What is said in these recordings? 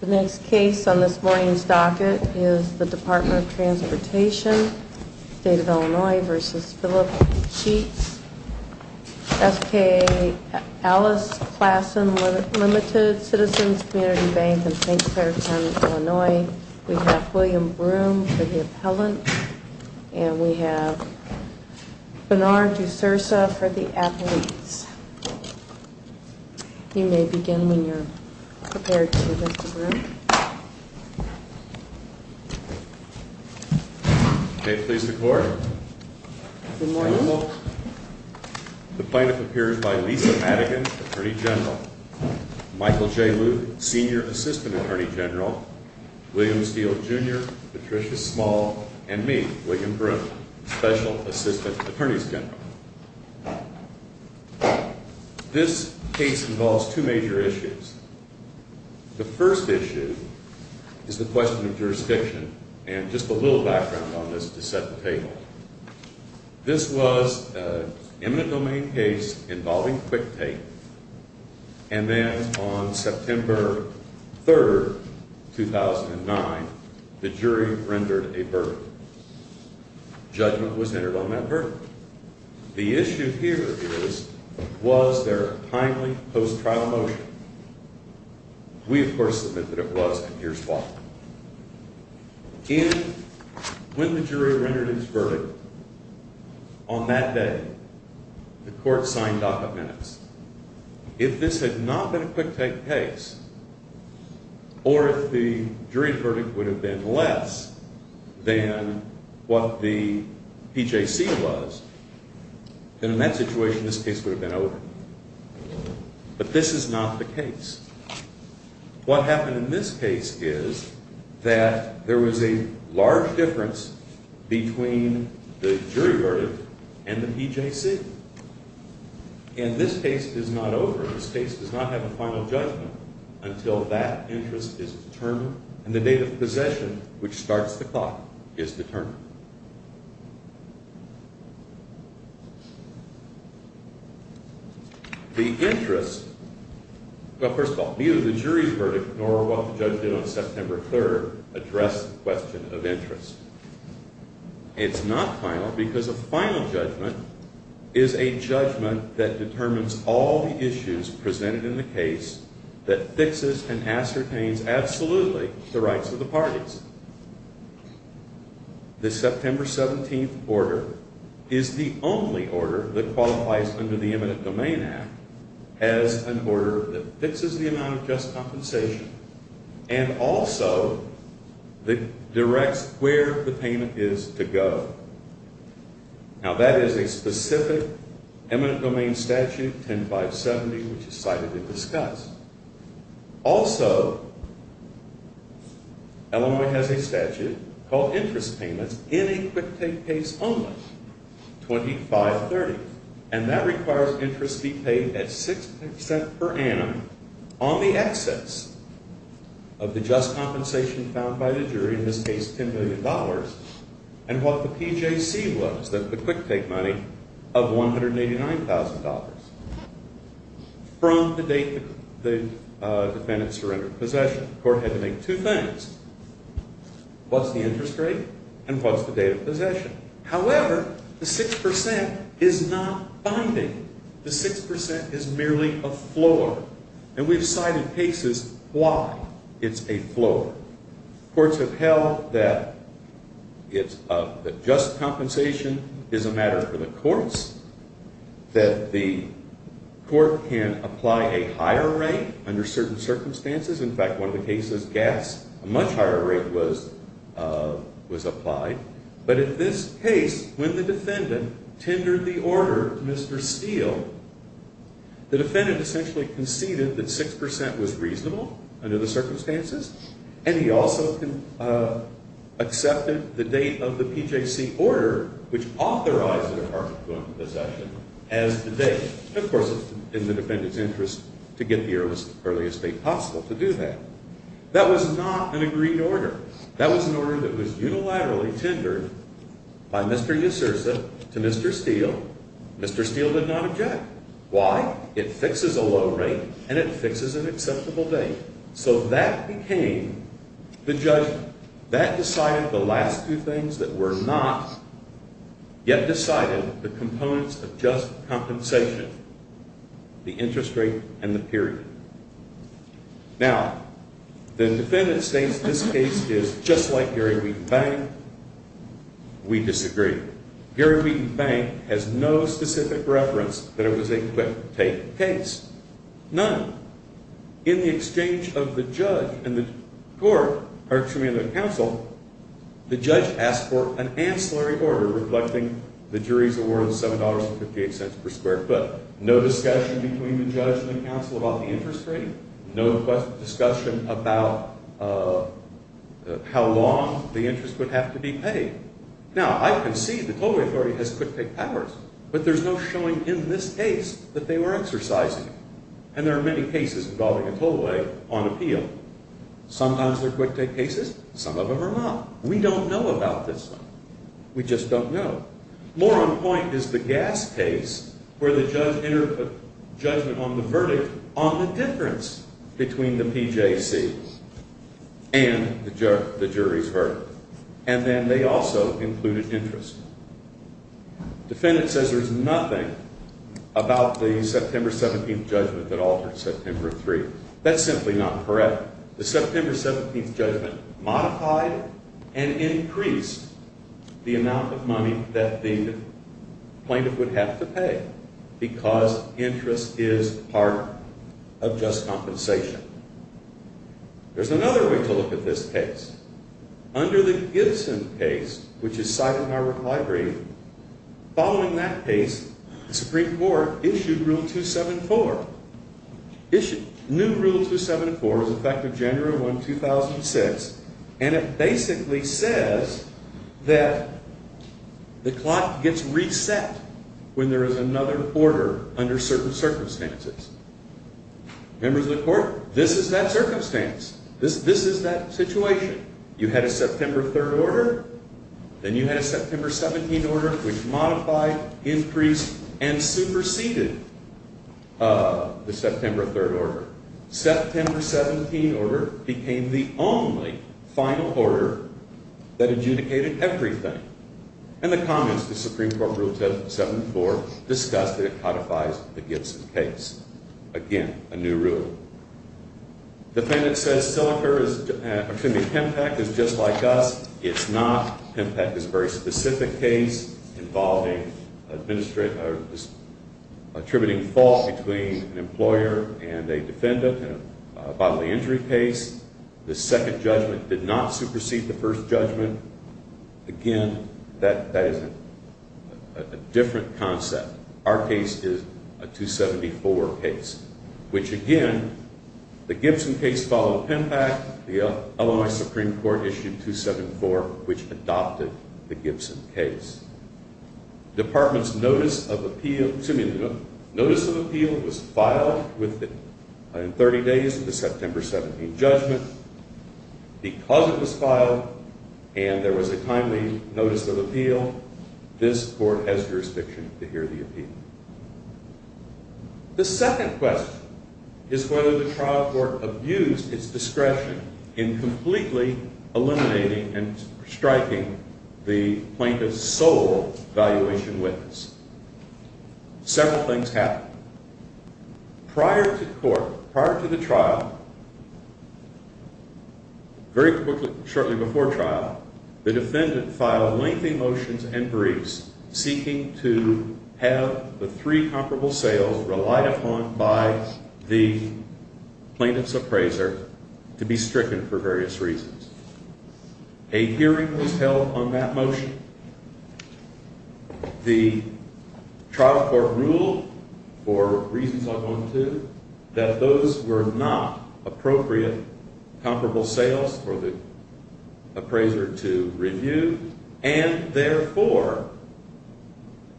The next case on this morning's docket is the Department of Transportation State of Illinois v. Phillip Sheets FKA Alice Classen Limited Citizens Community Bank in St. Clairtown, Illinois We have William Broome for the appellant And we have Benard D'Souza for the athlete You may begin when you're prepared to, Mr. Broome May it please the court Good morning, Your Honor The plaintiff appears by Lisa Madigan, Attorney General Michael J. Luke, Senior Assistant Attorney General William Steele, Jr., Patricia Small And me, William Broome, Special Assistant Attorney General This case involves two major issues The first issue is the question of jurisdiction And just a little background on this to set the table This was an eminent domain case involving QuickTake And then on September 3rd, 2009, the jury rendered a verdict Judgment was entered on that verdict The issue here is, was there a timely post-trial motion? We, of course, admit that it was, and here's why When the jury rendered its verdict, on that day, the court signed docket minutes If this had not been a QuickTake case Or if the jury verdict would have been less than what the PJC was Then in that situation, this case would have been over But this is not the case What happened in this case is that there was a large difference between the jury verdict and the PJC And this case is not over This case does not have a final judgment until that interest is determined And the date of possession, which starts the clock, is determined The interest, well first of all, neither the jury's verdict nor what the judge did on September 3rd address the question of interest It's not final because a final judgment is a judgment that determines all the issues presented in the case That fixes and ascertains absolutely the rights of the parties The September 17th order is the only order that qualifies under the Eminent Domain Act As an order that fixes the amount of just compensation And also, that directs where the payment is to go Now that is a specific eminent domain statute, 10-570, which is slightly discussed Also, Illinois has a statute called interest payments in a quick take case only, 25-30 And that requires interest be paid at 6 cents per annum on the excess of the just compensation found by the jury In this case, $10 million And what the PJC was, the quick take money of $189,000 From the date the defendant surrendered possession The court had to make two things What's the interest rate and what's the date of possession However, the 6% is not binding The 6% is merely a floor And we've cited cases why it's a floor That the court can apply a higher rate under certain circumstances In fact, one of the cases, gas, a much higher rate was applied But in this case, when the defendant tendered the order to Mr. Steele The defendant essentially conceded that 6% was reasonable under the circumstances And he also accepted the date of the PJC order, which authorized the department of possession as the date Of course, it's in the defendant's interest to get here as early as possible to do that That was not an agreed order That was an order that was unilaterally tendered by Mr. Usursa to Mr. Steele Mr. Steele did not object Why? It fixes a low rate and it fixes an acceptable date So that became the judgment That decided the last two things that were not yet decided The components of just compensation The interest rate and the period Now, the defendant states this case is just like Gary Wheaton Bank We disagree Gary Wheaton Bank has no specific reference that it was a quick take case None In the exchange of the judge and the court, or excuse me, the counsel The judge asked for an ancillary order reflecting the jury's award of $7.58 per square foot No discussion between the judge and the counsel about the interest rate No discussion about how long the interest would have to be paid Now, I concede the total authority has quick take powers But there's no showing in this case that they were exercising And there are many cases involving a tollway on appeal Sometimes they're quick take cases, some of them are not We don't know about this one We just don't know More on point is the gas case where the judge entered a judgment on the verdict On the difference between the PJC and the jury's verdict And then they also included interest Defendant says there's nothing about the September 17th judgment that altered September 3 That's simply not correct The September 17th judgment modified and increased the amount of money that the plaintiff would have to pay Because interest is part of just compensation There's another way to look at this case Under the Gibson case, which is cited in our reply brief Following that case, the Supreme Court issued Rule 274 New Rule 274 is effective January 1, 2006 And it basically says that the clock gets reset when there is another order under certain circumstances Members of the Court, this is that circumstance This is that situation You had a September 3rd order Then you had a September 17th order Which modified, increased, and superseded the September 3rd order September 17th order became the only final order that adjudicated everything In the comments, the Supreme Court Rule 274 discussed that it codifies the Gibson case Again, a new rule Defendant says Pempec is just like us It's not Pempec is a very specific case Involving attributing fault between an employer and a defendant A bodily injury case The second judgment did not supersede the first judgment Again, that is a different concept Our case is a 274 case Which again, the Gibson case followed Pempec The Illinois Supreme Court issued 274 Which adopted the Gibson case Department's notice of appeal was filed within 30 days of the September 17th judgment Because it was filed and there was a timely notice of appeal This Court has jurisdiction to hear the appeal The second question is whether the trial court abused its discretion In completely eliminating and striking the plaintiff's sole evaluation witness Several things happened Prior to court, prior to the trial Very quickly, shortly before trial The defendant filed lengthy motions and briefs Seeking to have the three comparable sales relied upon by the plaintiff's appraiser To be stricken for various reasons A hearing was held on that motion The trial court ruled for reasons I'll go into That those were not appropriate comparable sales for the appraiser to review And therefore,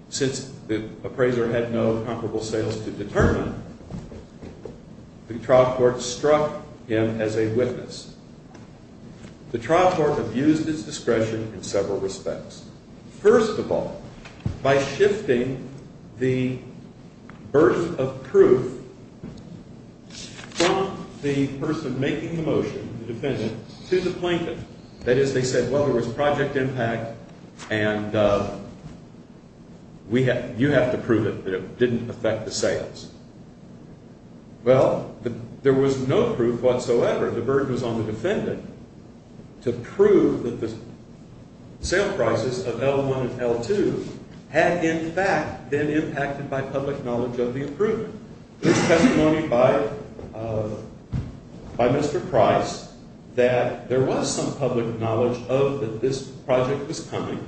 since the appraiser had no comparable sales to determine The trial court struck him as a witness The trial court abused its discretion in several respects First of all, by shifting the birth of proof From the person making the motion, the defendant, to the plaintiff That is, they said, well, there was project impact And you have to prove it, that it didn't affect the sales Well, there was no proof whatsoever The burden was on the defendant To prove that the sale prices of L1 and L2 Had in fact been impacted by public knowledge of the approval There's testimony by Mr. Price That there was some public knowledge of that this project was coming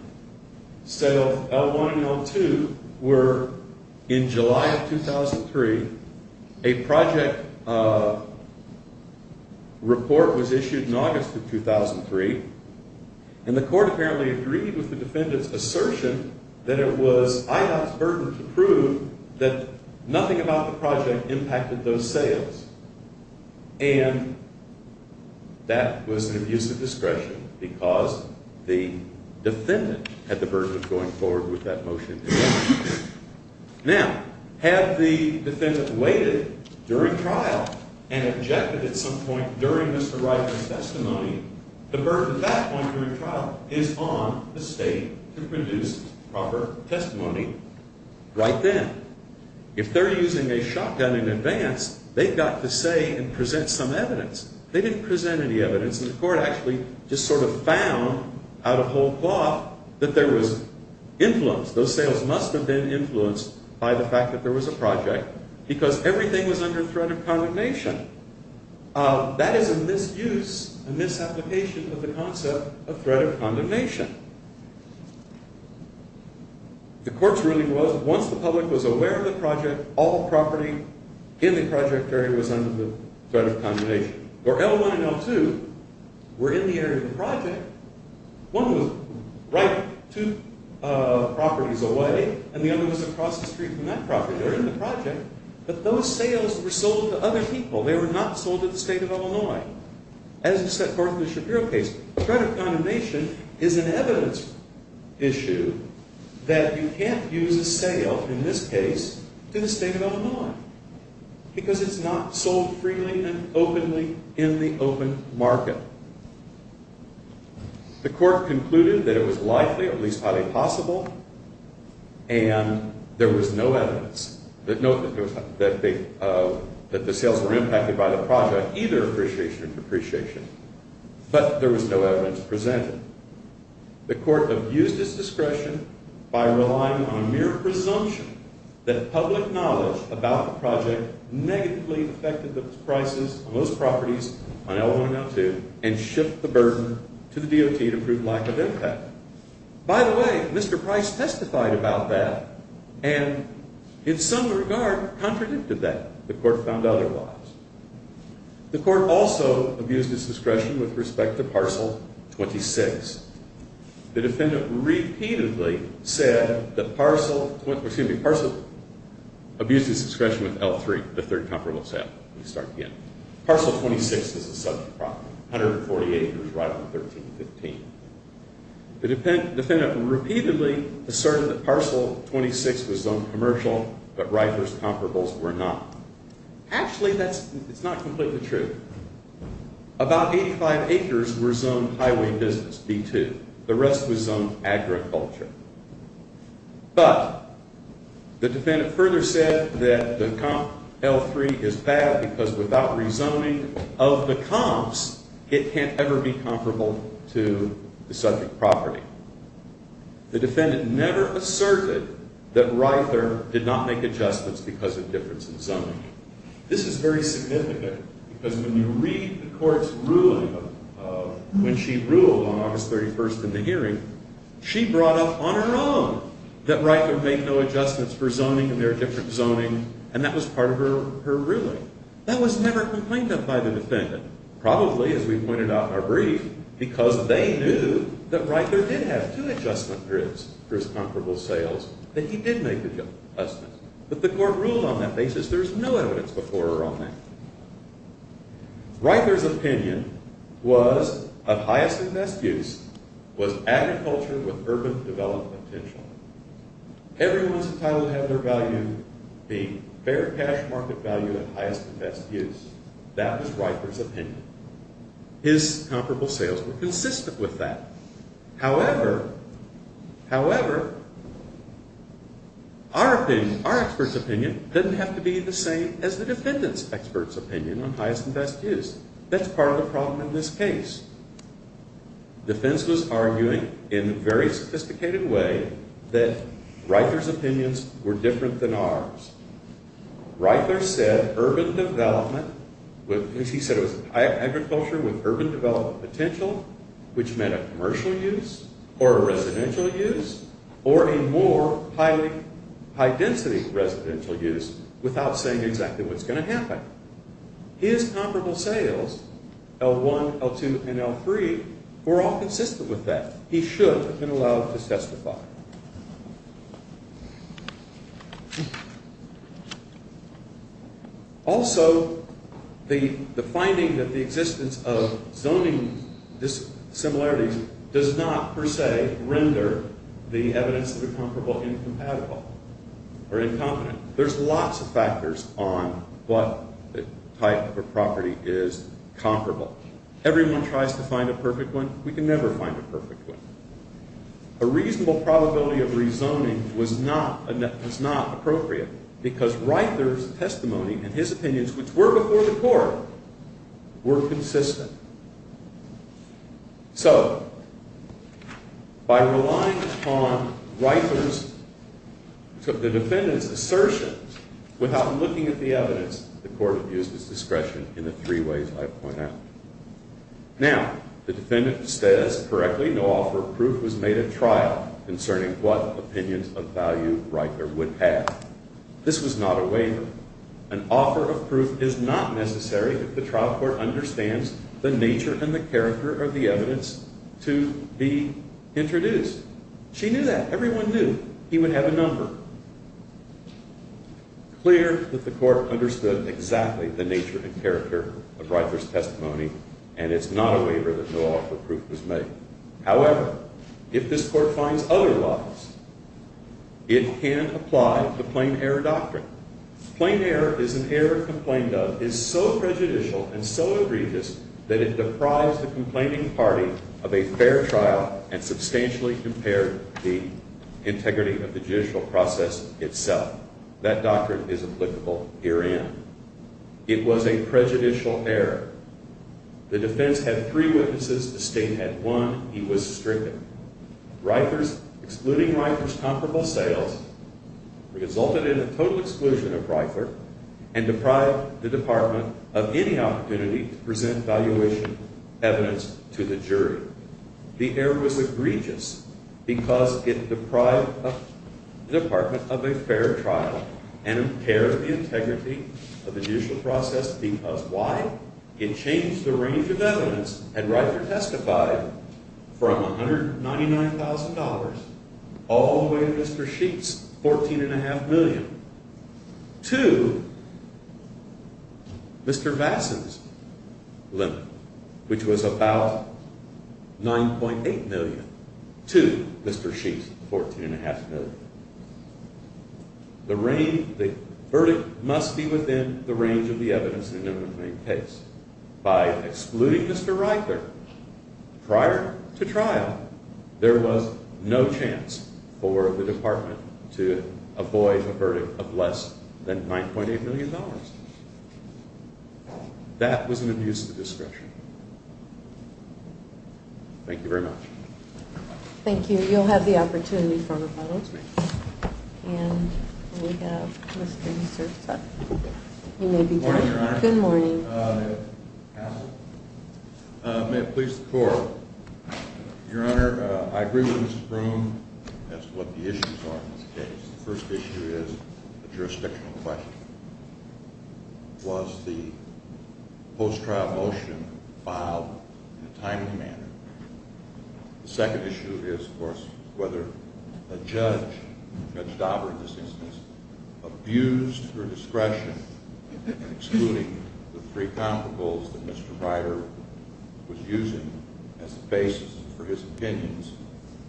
So L1 and L2 were in July of 2003 A project report was issued in August of 2003 And the court apparently agreed with the defendant's assertion That it was IDOT's burden to prove that nothing about the project impacted those sales And that was an abuse of discretion Because the defendant had the burden of going forward with that motion Now, had the defendant waited during trial And objected at some point during Mr. Ryker's testimony The burden at that point during trial Is on the state to produce proper testimony right then If they're using a shotgun in advance They've got to say and present some evidence They didn't present any evidence And the court actually just sort of found out of whole cloth That there was influence Those sales must have been influenced by the fact that there was a project Because everything was under threat of condemnation That is a misuse, a misapplication of the concept of threat of condemnation The court's ruling was that once the public was aware of the project All property in the project area was under the threat of condemnation Where L1 and L2 were in the area of the project One was right two properties away And the other was across the street from that property They were in the project But those sales were sold to other people They were not sold to the state of Illinois As is set forth in the Shapiro case Threat of condemnation is an evidence issue That you can't use a sale, in this case, to the state of Illinois Because it's not sold freely and openly in the open market The court concluded that it was likely, at least highly possible And there was no evidence Note that the sales were impacted by the project Either appreciation or depreciation But there was no evidence to present it The court abused its discretion by relying on a mere presumption That public knowledge about the project negatively affected the prices Of those properties on L1 and L2 And shift the burden to the DOT to prove lack of impact By the way, Mr. Price testified about that And, in some regard, contradicted that The court found otherwise The court also abused its discretion with respect to Parcel 26 The defendant repeatedly said that Parcel... Excuse me, Parcel abused its discretion with L3 The third comparable sale Let me start again Parcel 26 is a subject problem 148 was right on 1315 The defendant repeatedly asserted that Parcel 26 was zoned commercial But Rifer's comparables were not Actually, that's... it's not completely true About 85 acres were zoned highway business, B2 The rest was zoned agriculture But the defendant further said that the comp L3 is bad Because without rezoning of the comps It can't ever be comparable to the subject property The defendant never asserted that Rifer did not make adjustments Because of difference in zoning This is very significant Because when you read the court's ruling When she ruled on August 31st in the hearing She brought up on her own That Rifer made no adjustments for zoning And there are different zoning And that was part of her ruling That was never complained of by the defendant Probably, as we pointed out in our brief Because they knew that Rifer did have two adjustment grids For his comparable sales That he did make adjustments But the court ruled on that basis There's no evidence before or on that Rifer's opinion was Of highest and best use Was agriculture with urban development potential Everyone's entitled to have their value Being fair cash market value at highest and best use That was Rifer's opinion His comparable sales were consistent with that However However Our opinion, our expert's opinion Doesn't have to be the same as the defendant's expert's opinion On highest and best use That's part of the problem in this case Defense was arguing in a very sophisticated way That Rifer's opinions were different than ours Rifer said urban development He said it was agriculture with urban development potential Which meant a commercial use Or a residential use Or a more high density residential use Without saying exactly what's going to happen His comparable sales L1, L2, and L3 Were all consistent with that He should have been allowed to testify Also The finding that the existence of zoning Does not, per se, render The evidence of a comparable incompatible Or incompetent There's lots of factors on What type of a property is comparable Everyone tries to find a perfect one We can never find a perfect one A reasonable probability of rezoning Was not appropriate Because Rifer's testimony And his opinions, which were before the court Were consistent So By relying upon Rifer's The defendant's assertions Without looking at the evidence The court abused its discretion In the three ways I've pointed out Now The defendant says correctly No offer of proof was made at trial Concerning what opinions of value Rifer would have This was not a waiver An offer of proof is not necessary If the trial court understands The nature and the character of the evidence To be introduced She knew that Everyone knew He would have a number Clear that the court understood Exactly the nature and character Of Rifer's testimony And it's not a waiver that no offer of proof was made However If this court finds otherwise It can apply The plain error doctrine Plain error is an error complained of Is so prejudicial And so egregious That it deprives the complaining party Of a fair trial And substantially impaired The integrity of the judicial process itself That doctrine is applicable herein It was a prejudicial error The defense had three witnesses The state had one He was stricken Rifer's Excluding Rifer's comparable sales Resulted in a total exclusion of Rifer And deprived the department Of any opportunity To present evaluation evidence To the jury The error was egregious Because it deprived The department of a fair trial And impaired the integrity Of the judicial process Because why? It changed the range of evidence And Rifer testified From $199,000 All the way to Mr. Sheets $14.5 million To Mr. Vasson's limit Which was about $9.8 million To Mr. Sheets $14.5 million The range The verdict must be within The range of the evidence In the remaining case By excluding Mr. Rifer Prior to trial There was no chance For the department To avoid a verdict Of less than $9.8 million That was an abuse of discretion Thank you very much Thank you You'll have the opportunity For a follow-up And we have Mr. You may begin Good morning Counsel May it please the court Your honor I agree with Mr. Broome As to what the issues are in this case The first issue is A jurisdictional question Was the post-trial motion Filed in a timely manner? The second issue is of course Whether a judge Judge Dauber in this instance Abused her discretion In excluding the three comparables That Mr. Ryder was using As a basis for his opinions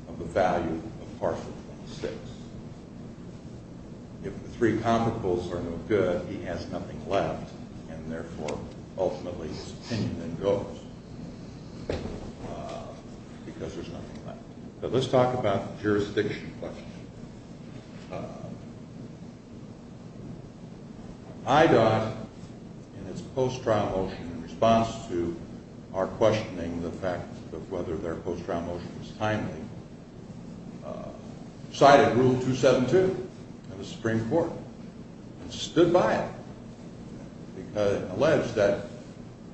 Of the value of partial 26 If the three comparables are no good He has nothing left And therefore ultimately His opinion then goes Because there's nothing left But let's talk about The jurisdiction question IDOT in its post-trial motion In response to our questioning The fact of whether their post-trial motion Was timely Cited Rule 272 Of the Supreme Court And stood by it And alleged that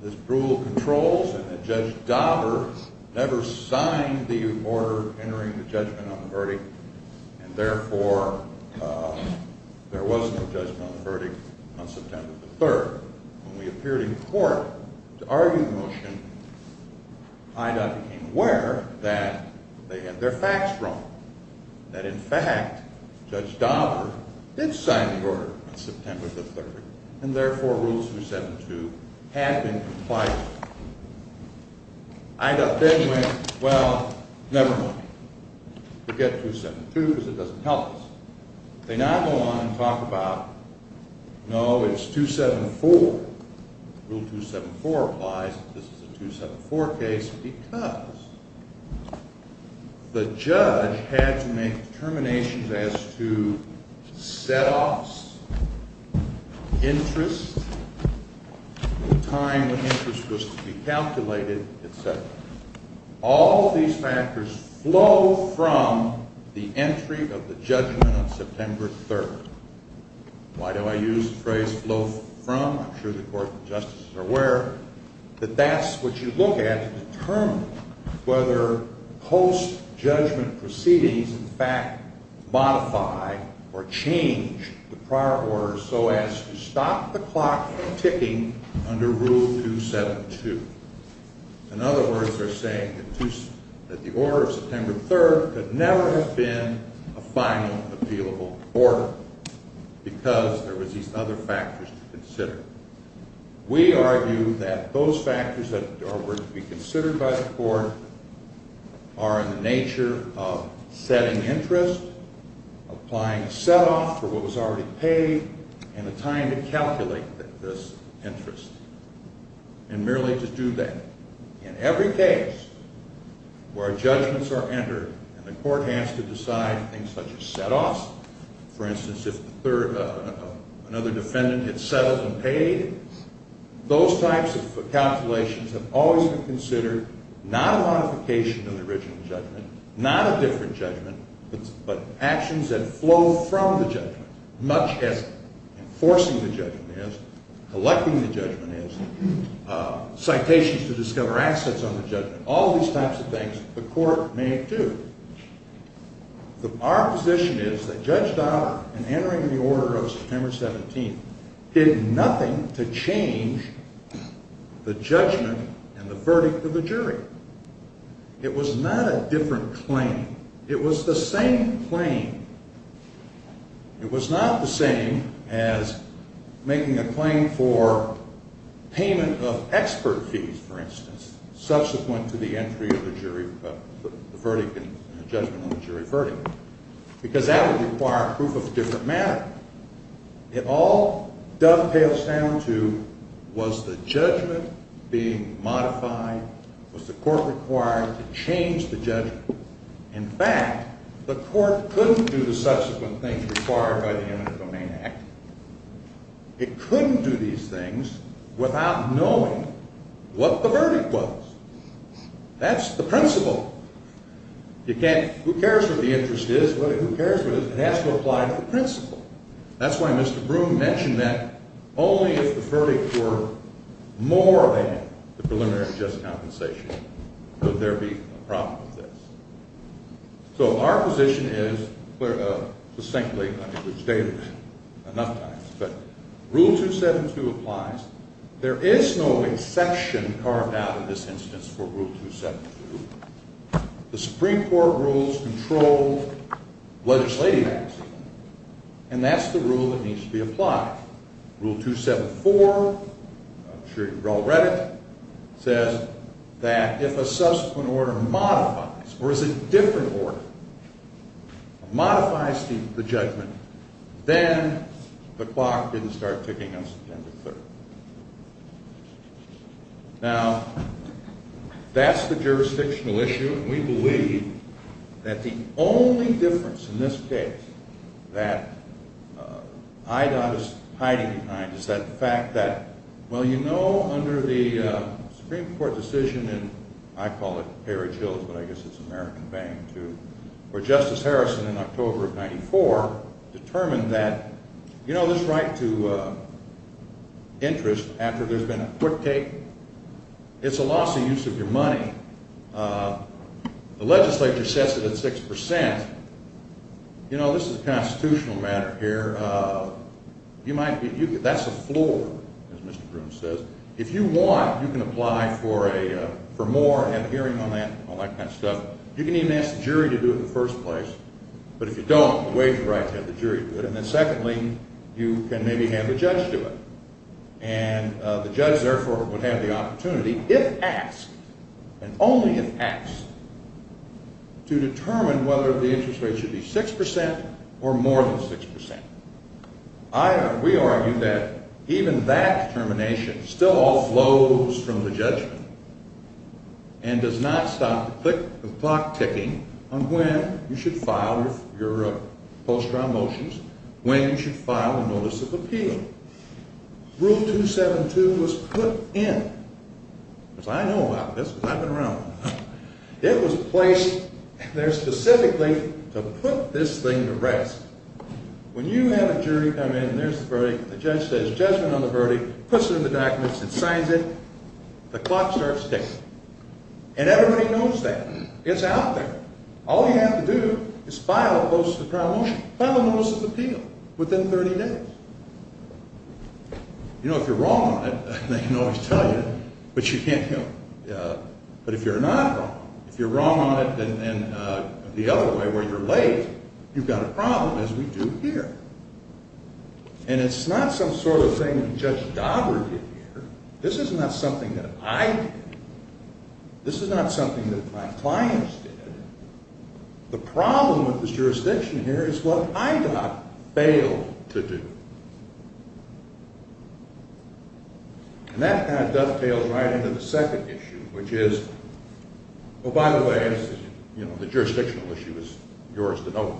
This rule controls And that Judge Dauber Never signed the order Entering the judgment on the verdict And therefore There was no judgment on the verdict On September the 3rd When we appeared in court To argue the motion IDOT became aware That they had their facts wrong That in fact Judge Dauber did sign the order On September the 3rd And therefore Rule 272 Had been complied with IDOT then went Well, never mind Forget 272 Because it doesn't help us They now go on and talk about No, it's 274 Rule 274 applies This is a 274 case Because The judge Had to make determinations as to Set-offs Interest The time When interest was to be calculated Etc All these factors Flow from The entry of the judgment On September the 3rd Why do I use the phrase flow from? I'm sure the Court of Justice is aware That that's what you look at To determine whether Post-judgment Proceedings in fact Modify or change The prior order so as To stop the clock ticking Under Rule 272 In other words They're saying that the order Of September the 3rd could never have been A final appealable order Because There were these other factors to consider We argue that Those factors that were to be Considered by the Court Are in the nature of Setting interest Applying set-off for what was already Paid and the time to Calculate this interest And merely to do that In every case Where judgments are entered And the Court has to decide Things such as set-offs For instance if Another defendant had settled and paid Those types of Calculations have always been considered Not a modification of the original judgment Not a different judgment But actions that Flow from the judgment Much as enforcing the judgment is Collecting the judgment is Citations to discover assets On the judgment, all these types of things The Court may do Our position is That Judge Dollar in entering the order Of September 17th Did nothing to change The judgment And the verdict of the jury It was not a different Claim, it was the same Claim It was not the same as Making a claim for Payment of expert Fees for instance, subsequent To the entry of the jury Verdict and judgment of the jury Verdict, because that would require Proof of a different matter It all dovetails Down to was the judgment Being modified Was the Court required To change the judgment In fact, the Court Couldn't do the subsequent things required By the Eminent Domain Act It couldn't do these things Without knowing What the verdict was That's the principle You can't, who cares What the interest is, who cares what it is It has to apply to the principle That's why Mr. Broome mentioned that Only if the verdict were More than the preliminary Just compensation Would there be a problem with this So our position is Succinctly I've stated it enough times Rule 272 applies There is no exception Carved out in this instance for Rule 272 The Supreme Court rules control Legislative action And that's the rule that Needs to be applied Rule 274 I'm sure you've all read it Says that if a subsequent order Modifies, or is a different order Modifies The judgment Then the clock didn't start Ticking on September 3rd Now That's the Jurisdictional issue and we believe That the only difference In this case That IDOT Is hiding behind is that fact That well you know under The Supreme Court decision And I call it Perry-Jill's But I guess it's American bang too Where Justice Harrison in October Of 94 determined that You know this right to Interest after there's Been a quick take It's a loss of use of your money The legislature Sets it at 6% You know this is a constitutional Matter here That's a floor As Mr. Broom says If you want you can apply for For more and have a hearing on that All that kind of stuff. You can even ask the jury To do it in the first place But if you don't the waive the right to have the jury do it And then secondly you can maybe have The judge do it And the judge therefore would have the opportunity If asked And only if asked To determine whether the interest Rate should be 6% Or more than 6% We argue that Even that determination still All flows from the judgment And does not Stop the clock ticking On when you should file Your post trial motions When you should file a notice of appeal Rule 272 Was put in As I know about this Because I've been around a while It was placed there specifically To put this thing to rest When you have a jury Come in and there's the verdict The judge says judgment on the verdict Puts it in the documents and signs it The clock starts ticking And everybody knows that It's out there All you have to do is file a post trial motion File a notice of appeal Within 30 days You know if you're wrong on it They can always tell you But if you're not wrong If you're wrong on it And the other way where you're late You've got a problem as we do here And it's not some sort of thing That Judge Daugherty did here This is not something that I did This is not something that my clients did The problem with this jurisdiction here Is what I got failed to do And that kind of dovetails Right into the second issue Which is Oh by the way You know the jurisdictional issue Was yours to know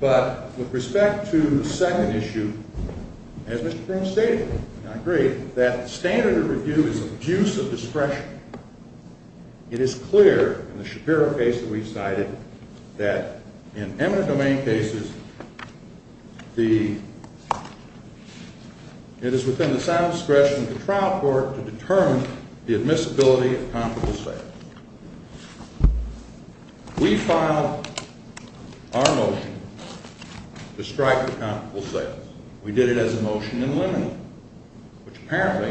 But with respect to the second issue As Mr. Perkins stated And I agree That standard of review is an abuse of discretion It is clear In the Shapiro case that we cited That in eminent domain cases It is within the sound discretion Of the trial court To determine the admissibility Of comparable sales We filed Our motion To strike The comparable sales We did it as a motion in limine Which apparently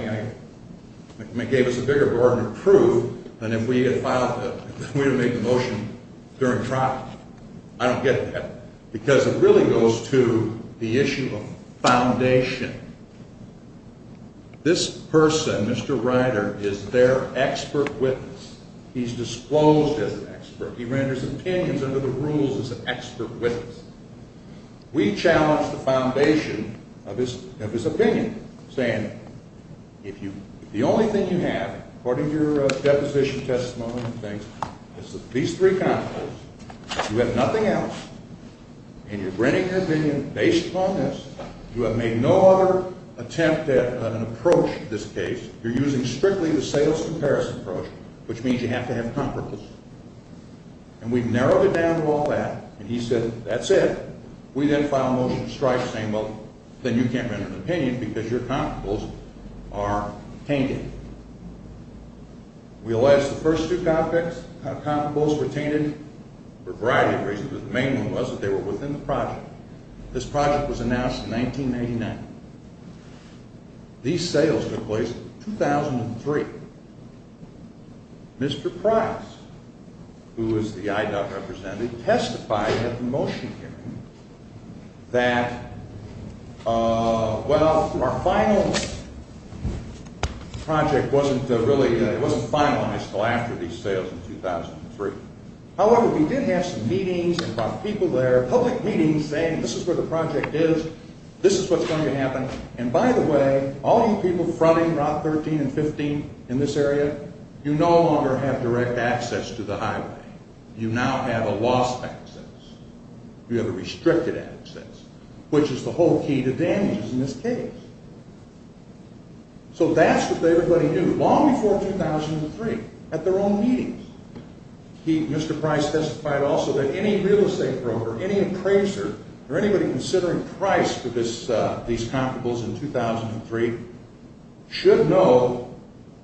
Gave us a bigger burden of proof Than if we had made the motion During trial I don't get that Because it really goes to the issue of Foundation This person Mr. Ryder Is their expert witness He's disclosed as an expert He renders opinions under the rules As an expert witness We challenge the foundation Of his opinion Saying The only thing you have According to your deposition testimony Is these three constables You have nothing else And you're bringing your opinion based upon this You have made no other Attempt at an approach In this case, you're using strictly the sales comparison Approach, which means you have to have Comparables And we've narrowed it down to all that And he said, that's it We then filed a motion to strike saying Well, then you can't render an opinion Because your comparables are tainted We allege the first two Comparables were tainted For a variety of reasons, but the main one was That they were within the project This project was announced In 1989 These sales took place In 2003 Mr. Price Who is the IDOC representative Testified at the motion hearing That Well Our final Project wasn't Really, it wasn't finalized until after These sales in 2003 However, we did have some meetings And brought people there, public meetings Saying this is where the project is This is what's going to happen And by the way, all you people Fronting Route 13 and 15 in this area You no longer have direct access To the highway You now have a lost access You have a restricted access Which is the whole key to damages In this case So that's what they were letting do Long before 2003 At their own meetings Mr. Price testified Also that any real estate broker Any appraiser, or anybody Considering price for these Comparables in 2003 Should know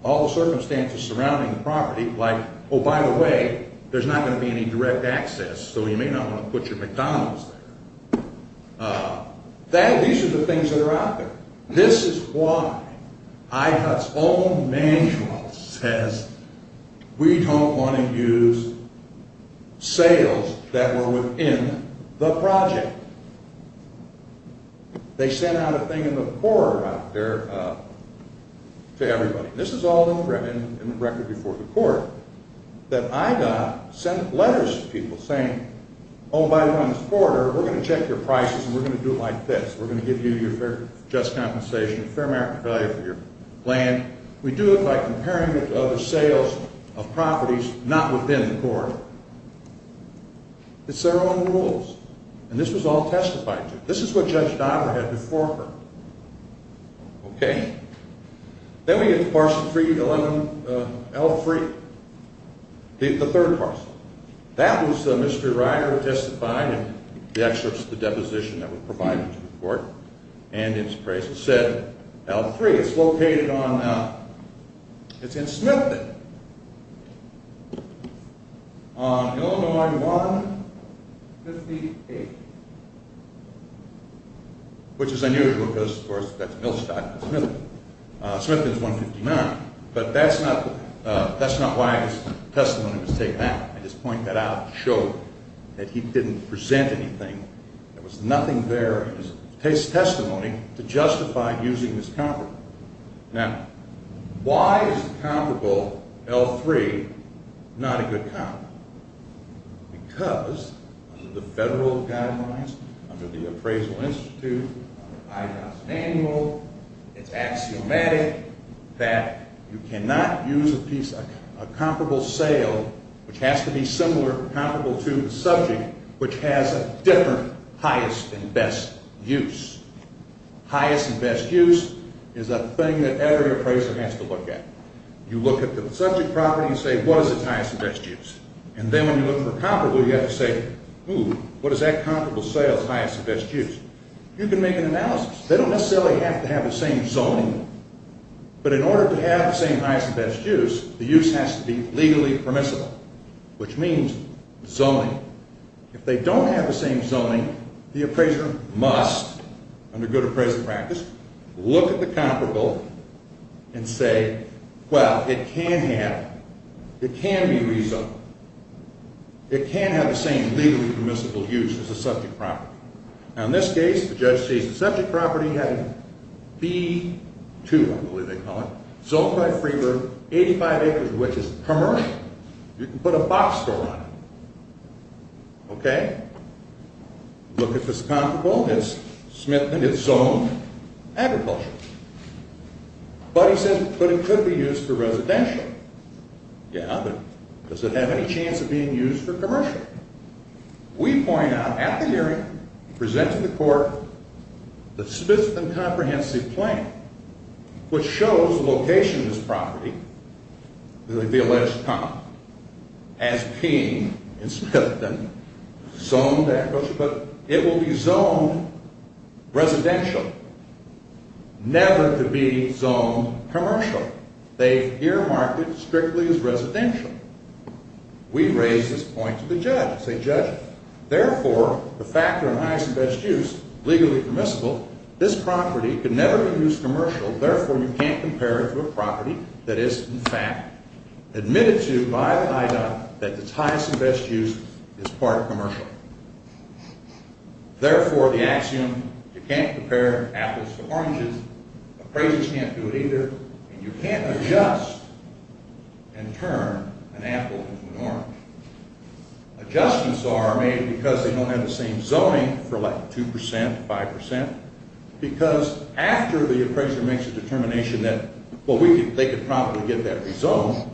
All the circumstances surrounding the property Like, oh by the way There's not going to be any direct access So you may not want to put your McDonald's there These are the things that are out there This is why IHUT's own manual says We don't want to use Sales That were within the project They sent out a thing in the Quarter out there To everybody This is all in the record before the court That I got Sent letters to people saying Oh by the way on this quarter We're going to check your prices and we're going to do it like this We're going to give you your fair just compensation Fair market value for your land We do it by comparing it to other sales Of properties Not within the court It's their own rules And this was all testified to This is what Judge Diver had before her Okay Then we get parcel 3 L3 The third parcel That was Mr. Ryder Who testified and the excerpts of the Deposition that were provided to the court And it's price It said L3 It's located on It's in Smithton On Illinois 158 Which is unusual because of course that's Millstock Smithton But that's not That's not why his testimony Was taken out. I just point that out to show That he didn't present anything There was nothing there It takes testimony To justify using this comparable Now Why is a comparable L3 Not a good comparable Because Under the federal guidelines Under the appraisal institute Under I-2000 annual It's axiomatic That you cannot use a piece A comparable sale Which has to be similar Comparable to the subject Which has a different Highest and best use Highest and best use Is a thing that every appraiser Has to look at. You look at the Subject property and say what is it's highest and best use And then when you look for comparable You have to say What is that comparable sale's highest and best use You can make an analysis They don't necessarily have to have the same zoning But in order to have the same Highest and best use, the use has to be Legally permissible Which means zoning If they don't have the same Zoning, the appraiser must Under good appraisal practice Look at the comparable And say Well, it can have It can be rezoned It can have the same Legally permissible use as the subject property Now in this case, the judge says The subject property had B2, I believe they call it Zoned by free room, 85 acres Which is commercial You can put a box store on it Okay Look at this comparable It's zoned Agricultural But he says, but it could be used for residential Yeah, but Does it have any chance of being used For commercial We point out at the hearing Present to the court The specific and comprehensive plan Which shows the location Of this property The alleged cop As king in Smithton Zoned agricultural But it will be zoned Residential Never to be zoned Commercial They earmarked it strictly as residential We raise this point To the judge, say judge Therefore, the factor in highest and best use Legally permissible This property could never be used commercial Therefore, you can't compare it to a property That is, in fact Admitted to by the IW That its highest and best use Is part of commercial Therefore, the axiom You can't compare apples to oranges Appraisers can't do it either And you can't adjust And turn An apple into an orange Adjustments are made Because they don't have the same zoning For like 2%, 5% Because after the appraiser Makes a determination that They could probably get that rezoned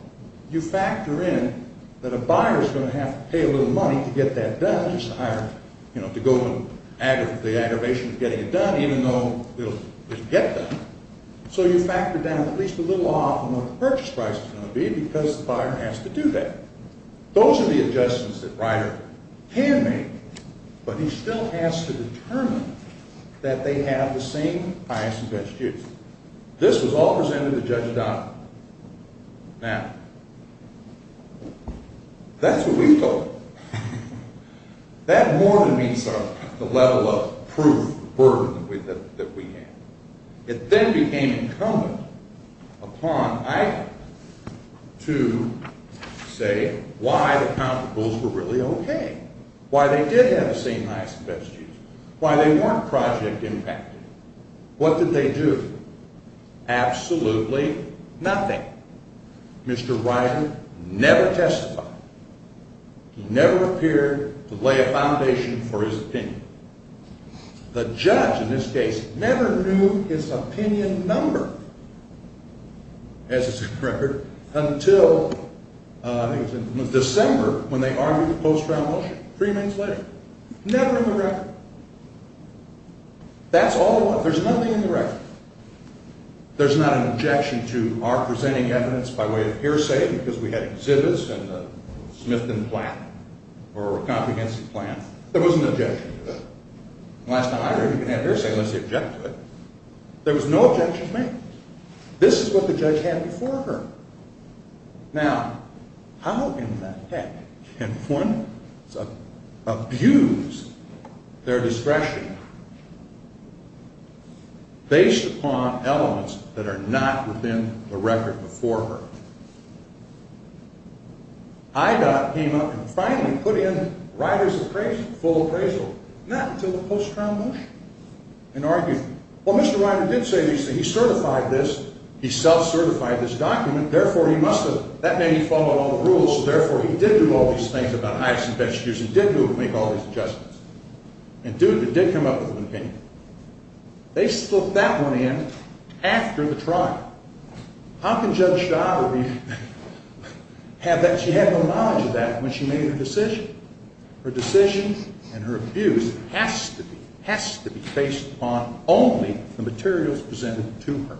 You factor in That a buyer is going to have to pay a little money To get that done To go to the aggravation Of getting it done Even though it will get done So you factor down at least a little off On what the purchase price is going to be Because the buyer has to do that Those are the adjustments that Ryder can make But he still has to determine That they have the same Highest and best use This was all presented to Judge O'Donnell Now That's what we thought That more than meets The level of proof That we had It then became incumbent Upon IW To say Why the counterpulls were really okay Why they did have the same Highest and best use Why they weren't project impacted What did they do? Absolutely nothing Mr. Ryder Never testified He never appeared To lay a foundation for his opinion The judge in this case Never knew his opinion Number As it's a record Until December When they argued the post-trial motion Three months later Never in the record That's all there was There's nothing in the record There's not an objection to our presenting evidence By way of hearsay because we had exhibits And a Smith and Platt Or a competency plan There was no objection to that Last time I heard you had hearsay unless you object to it There was no objection made This is what the judge had before her Now How in the heck Can one Abuse Their discretion Based upon Elements that are not within The record before her IDOT Came up and finally put in Ryder's appraisal Full appraisal not until the post-trial motion And argued Well Mr. Ryder did say these things He certified this He self-certified this document Therefore he must have That made him follow all the rules Therefore he did do all these things He did make all these adjustments And did come up with an opinion They slipped that one in After the trial How can Judge Schauber Have that She had no knowledge of that when she made her decision Her decision and her abuse Has to be Based upon only The materials presented to her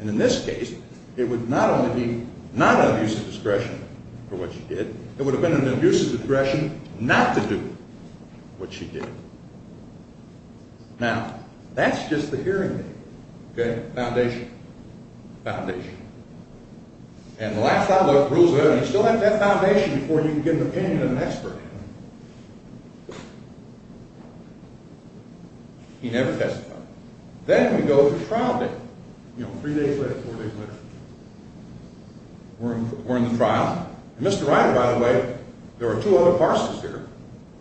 And in this case It would not only be Not an abuse of discretion For what she did It would have been an abuse of discretion Not to do what she did Now That's just the hearing Foundation And the last I looked Rules of evidence You still have to have that foundation Before you can get an opinion of an expert He never testified He never testified Then we go to trial day Three days later, four days later We're in the trial And Mr. Ryder by the way There were two other parsons here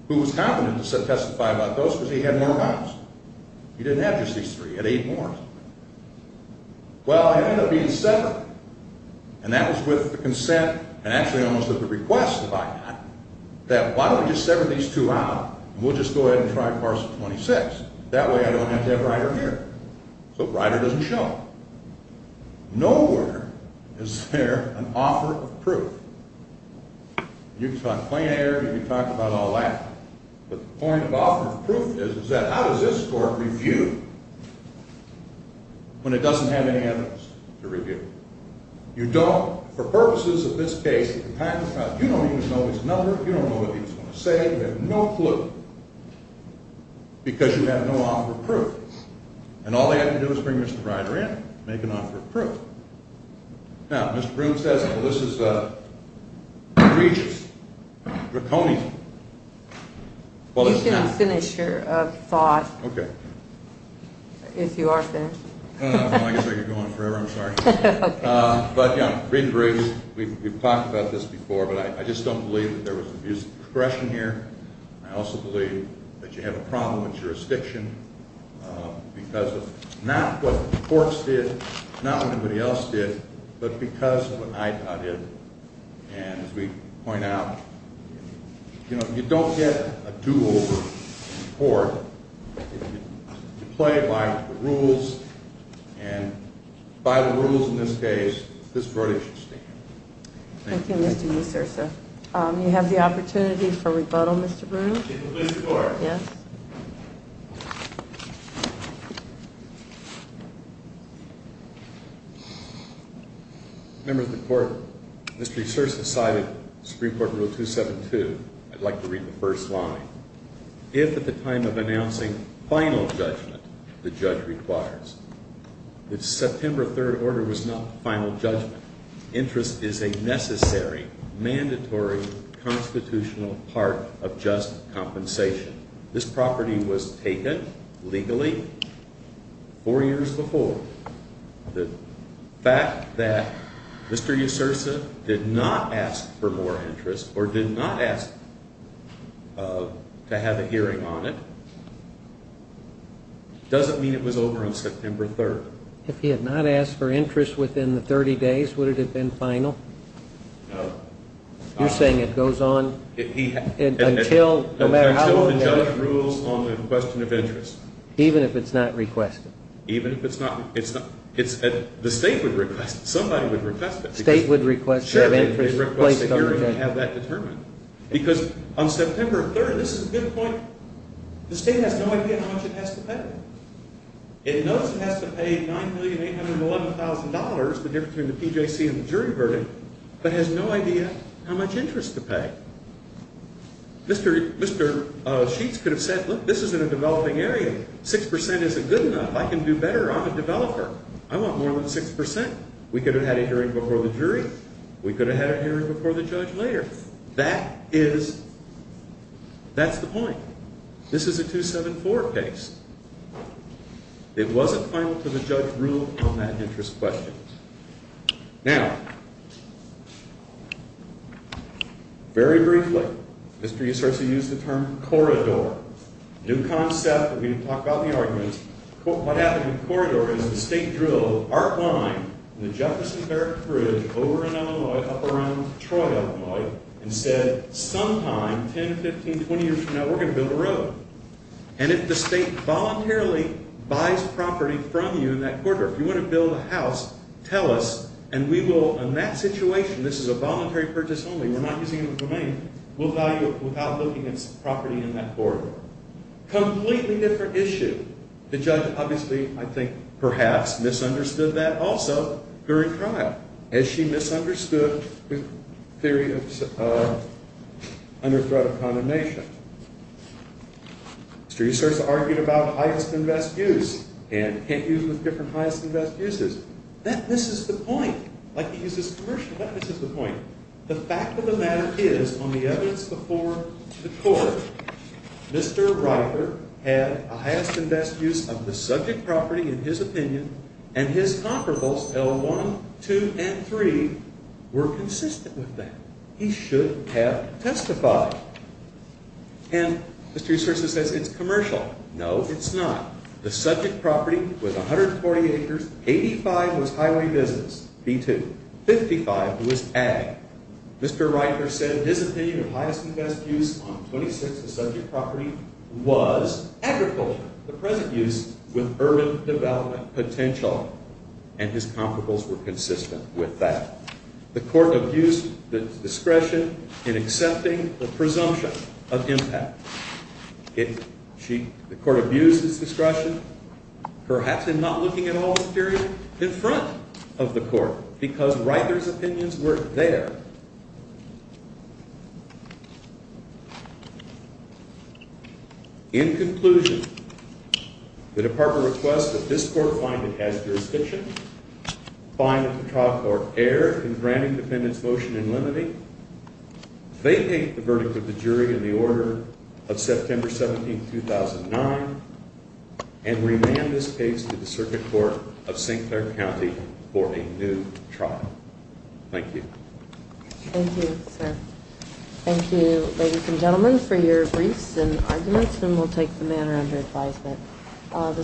Who was confident to testify about those Because he had more bonds He didn't have just these three, he had eight more Well it ended up being Separate And that was with the consent And actually almost with the request That why don't we just sever these two out And we'll just go ahead and try Parson 26 That way I don't have to have Ryder here So Ryder doesn't show up Nowhere is there An offer of proof You can talk plain air You can talk about all that But the point of offer of proof is How does this court review When it doesn't have any evidence To review You don't For purposes of this case You don't even know his number You don't know what he was going to say You have no clue Because you have no offer of proof And all they had to do was bring Mr. Ryder in Make an offer of proof Now Mr. Broome says Well this is egregious Draconian You can finish your Thought If you are finished I guess I could go on forever I'm sorry We've talked about this before But I just don't believe there was Aggression here I also believe that you have a problem with jurisdiction Because of Not what the courts did Not what anybody else did But because of what IPA did And as we point out You know You don't get a do over In court You play by the rules And By the rules in this case This verdict should stand Thank you Mr. Musursa You have the opportunity for rebuttal Mr. Broome People please report Yes Members of the court Mr. Musursa cited Supreme Court Rule 272 I'd like to read the first line If at the time of announcing Final judgment The judge requires September 3rd order was not final judgment Interest is a necessary Mandatory Constitutional part Of just compensation This property was taken Legally Four years before The fact that Mr. Musursa did not ask For more interest or did not ask To have a hearing on it Doesn't mean it was over on September 3rd If he had not asked for interest Within the 30 days Would it have been final You're saying it goes on Until No matter how long The judge rules on the question of interest Even if it's not requested Even if it's not The state would request it State would request Sure To have that determined Because on September 3rd This is a good point The state has no idea how much it has to pay It knows it has to pay $9,811,000 The difference between the PJC and the jury verdict But has no idea How much interest to pay Mr. Sheets could have said 6% isn't good enough I can do better, I'm a developer I want more than 6% We could have had a hearing before the jury We could have had a hearing before the judge later That is That's the point This is a 274 case It wasn't final Until the judge ruled on that interest question Now Very briefly Corridor New concept, we didn't talk about the arguments What happened in Corridor Is the state drilled In the Jefferson Bridge Up around Troy And said sometime 10, 15, 20 years from now We're going to build a road And if the state voluntarily Buys property from you in that corridor If you want to build a house Tell us and we will In that situation, this is a voluntary purchase only We're not using it as a domain We'll value it without looking at property in that corridor Completely different issue The judge obviously, I think Perhaps misunderstood that also During trial As she misunderstood The theory of Under threat of condemnation Mr. Husserl Argued about highest and best use And can't use with different highest and best uses That misses the point Like he uses commercial That misses the point The fact of the matter is On the evidence before the court Mr. Reiter Had a highest and best use Of the subject property in his opinion And his comparables L1, 2, and 3 Were consistent with that He should have testified And Mr. Husserl says it's commercial No, it's not The subject property was 140 acres 85 was highway business 55 was ag Mr. Reiter said his opinion Of highest and best use on 26 The subject property was Agriculture The present use with urban development potential And his comparables Were consistent with that The court abused the discretion In accepting the presumption Of impact The court abused Its discretion Perhaps in not looking at all the material In front of the court Because Reiter's opinions weren't there In conclusion The department requests that this court Find it has jurisdiction Find that the trial court erred In granting the defendant's motion in limine They take the verdict Of the jury in the order Of September 17, 2009 And remand this case To the circuit court Of St. Clair County For a new trial Thank you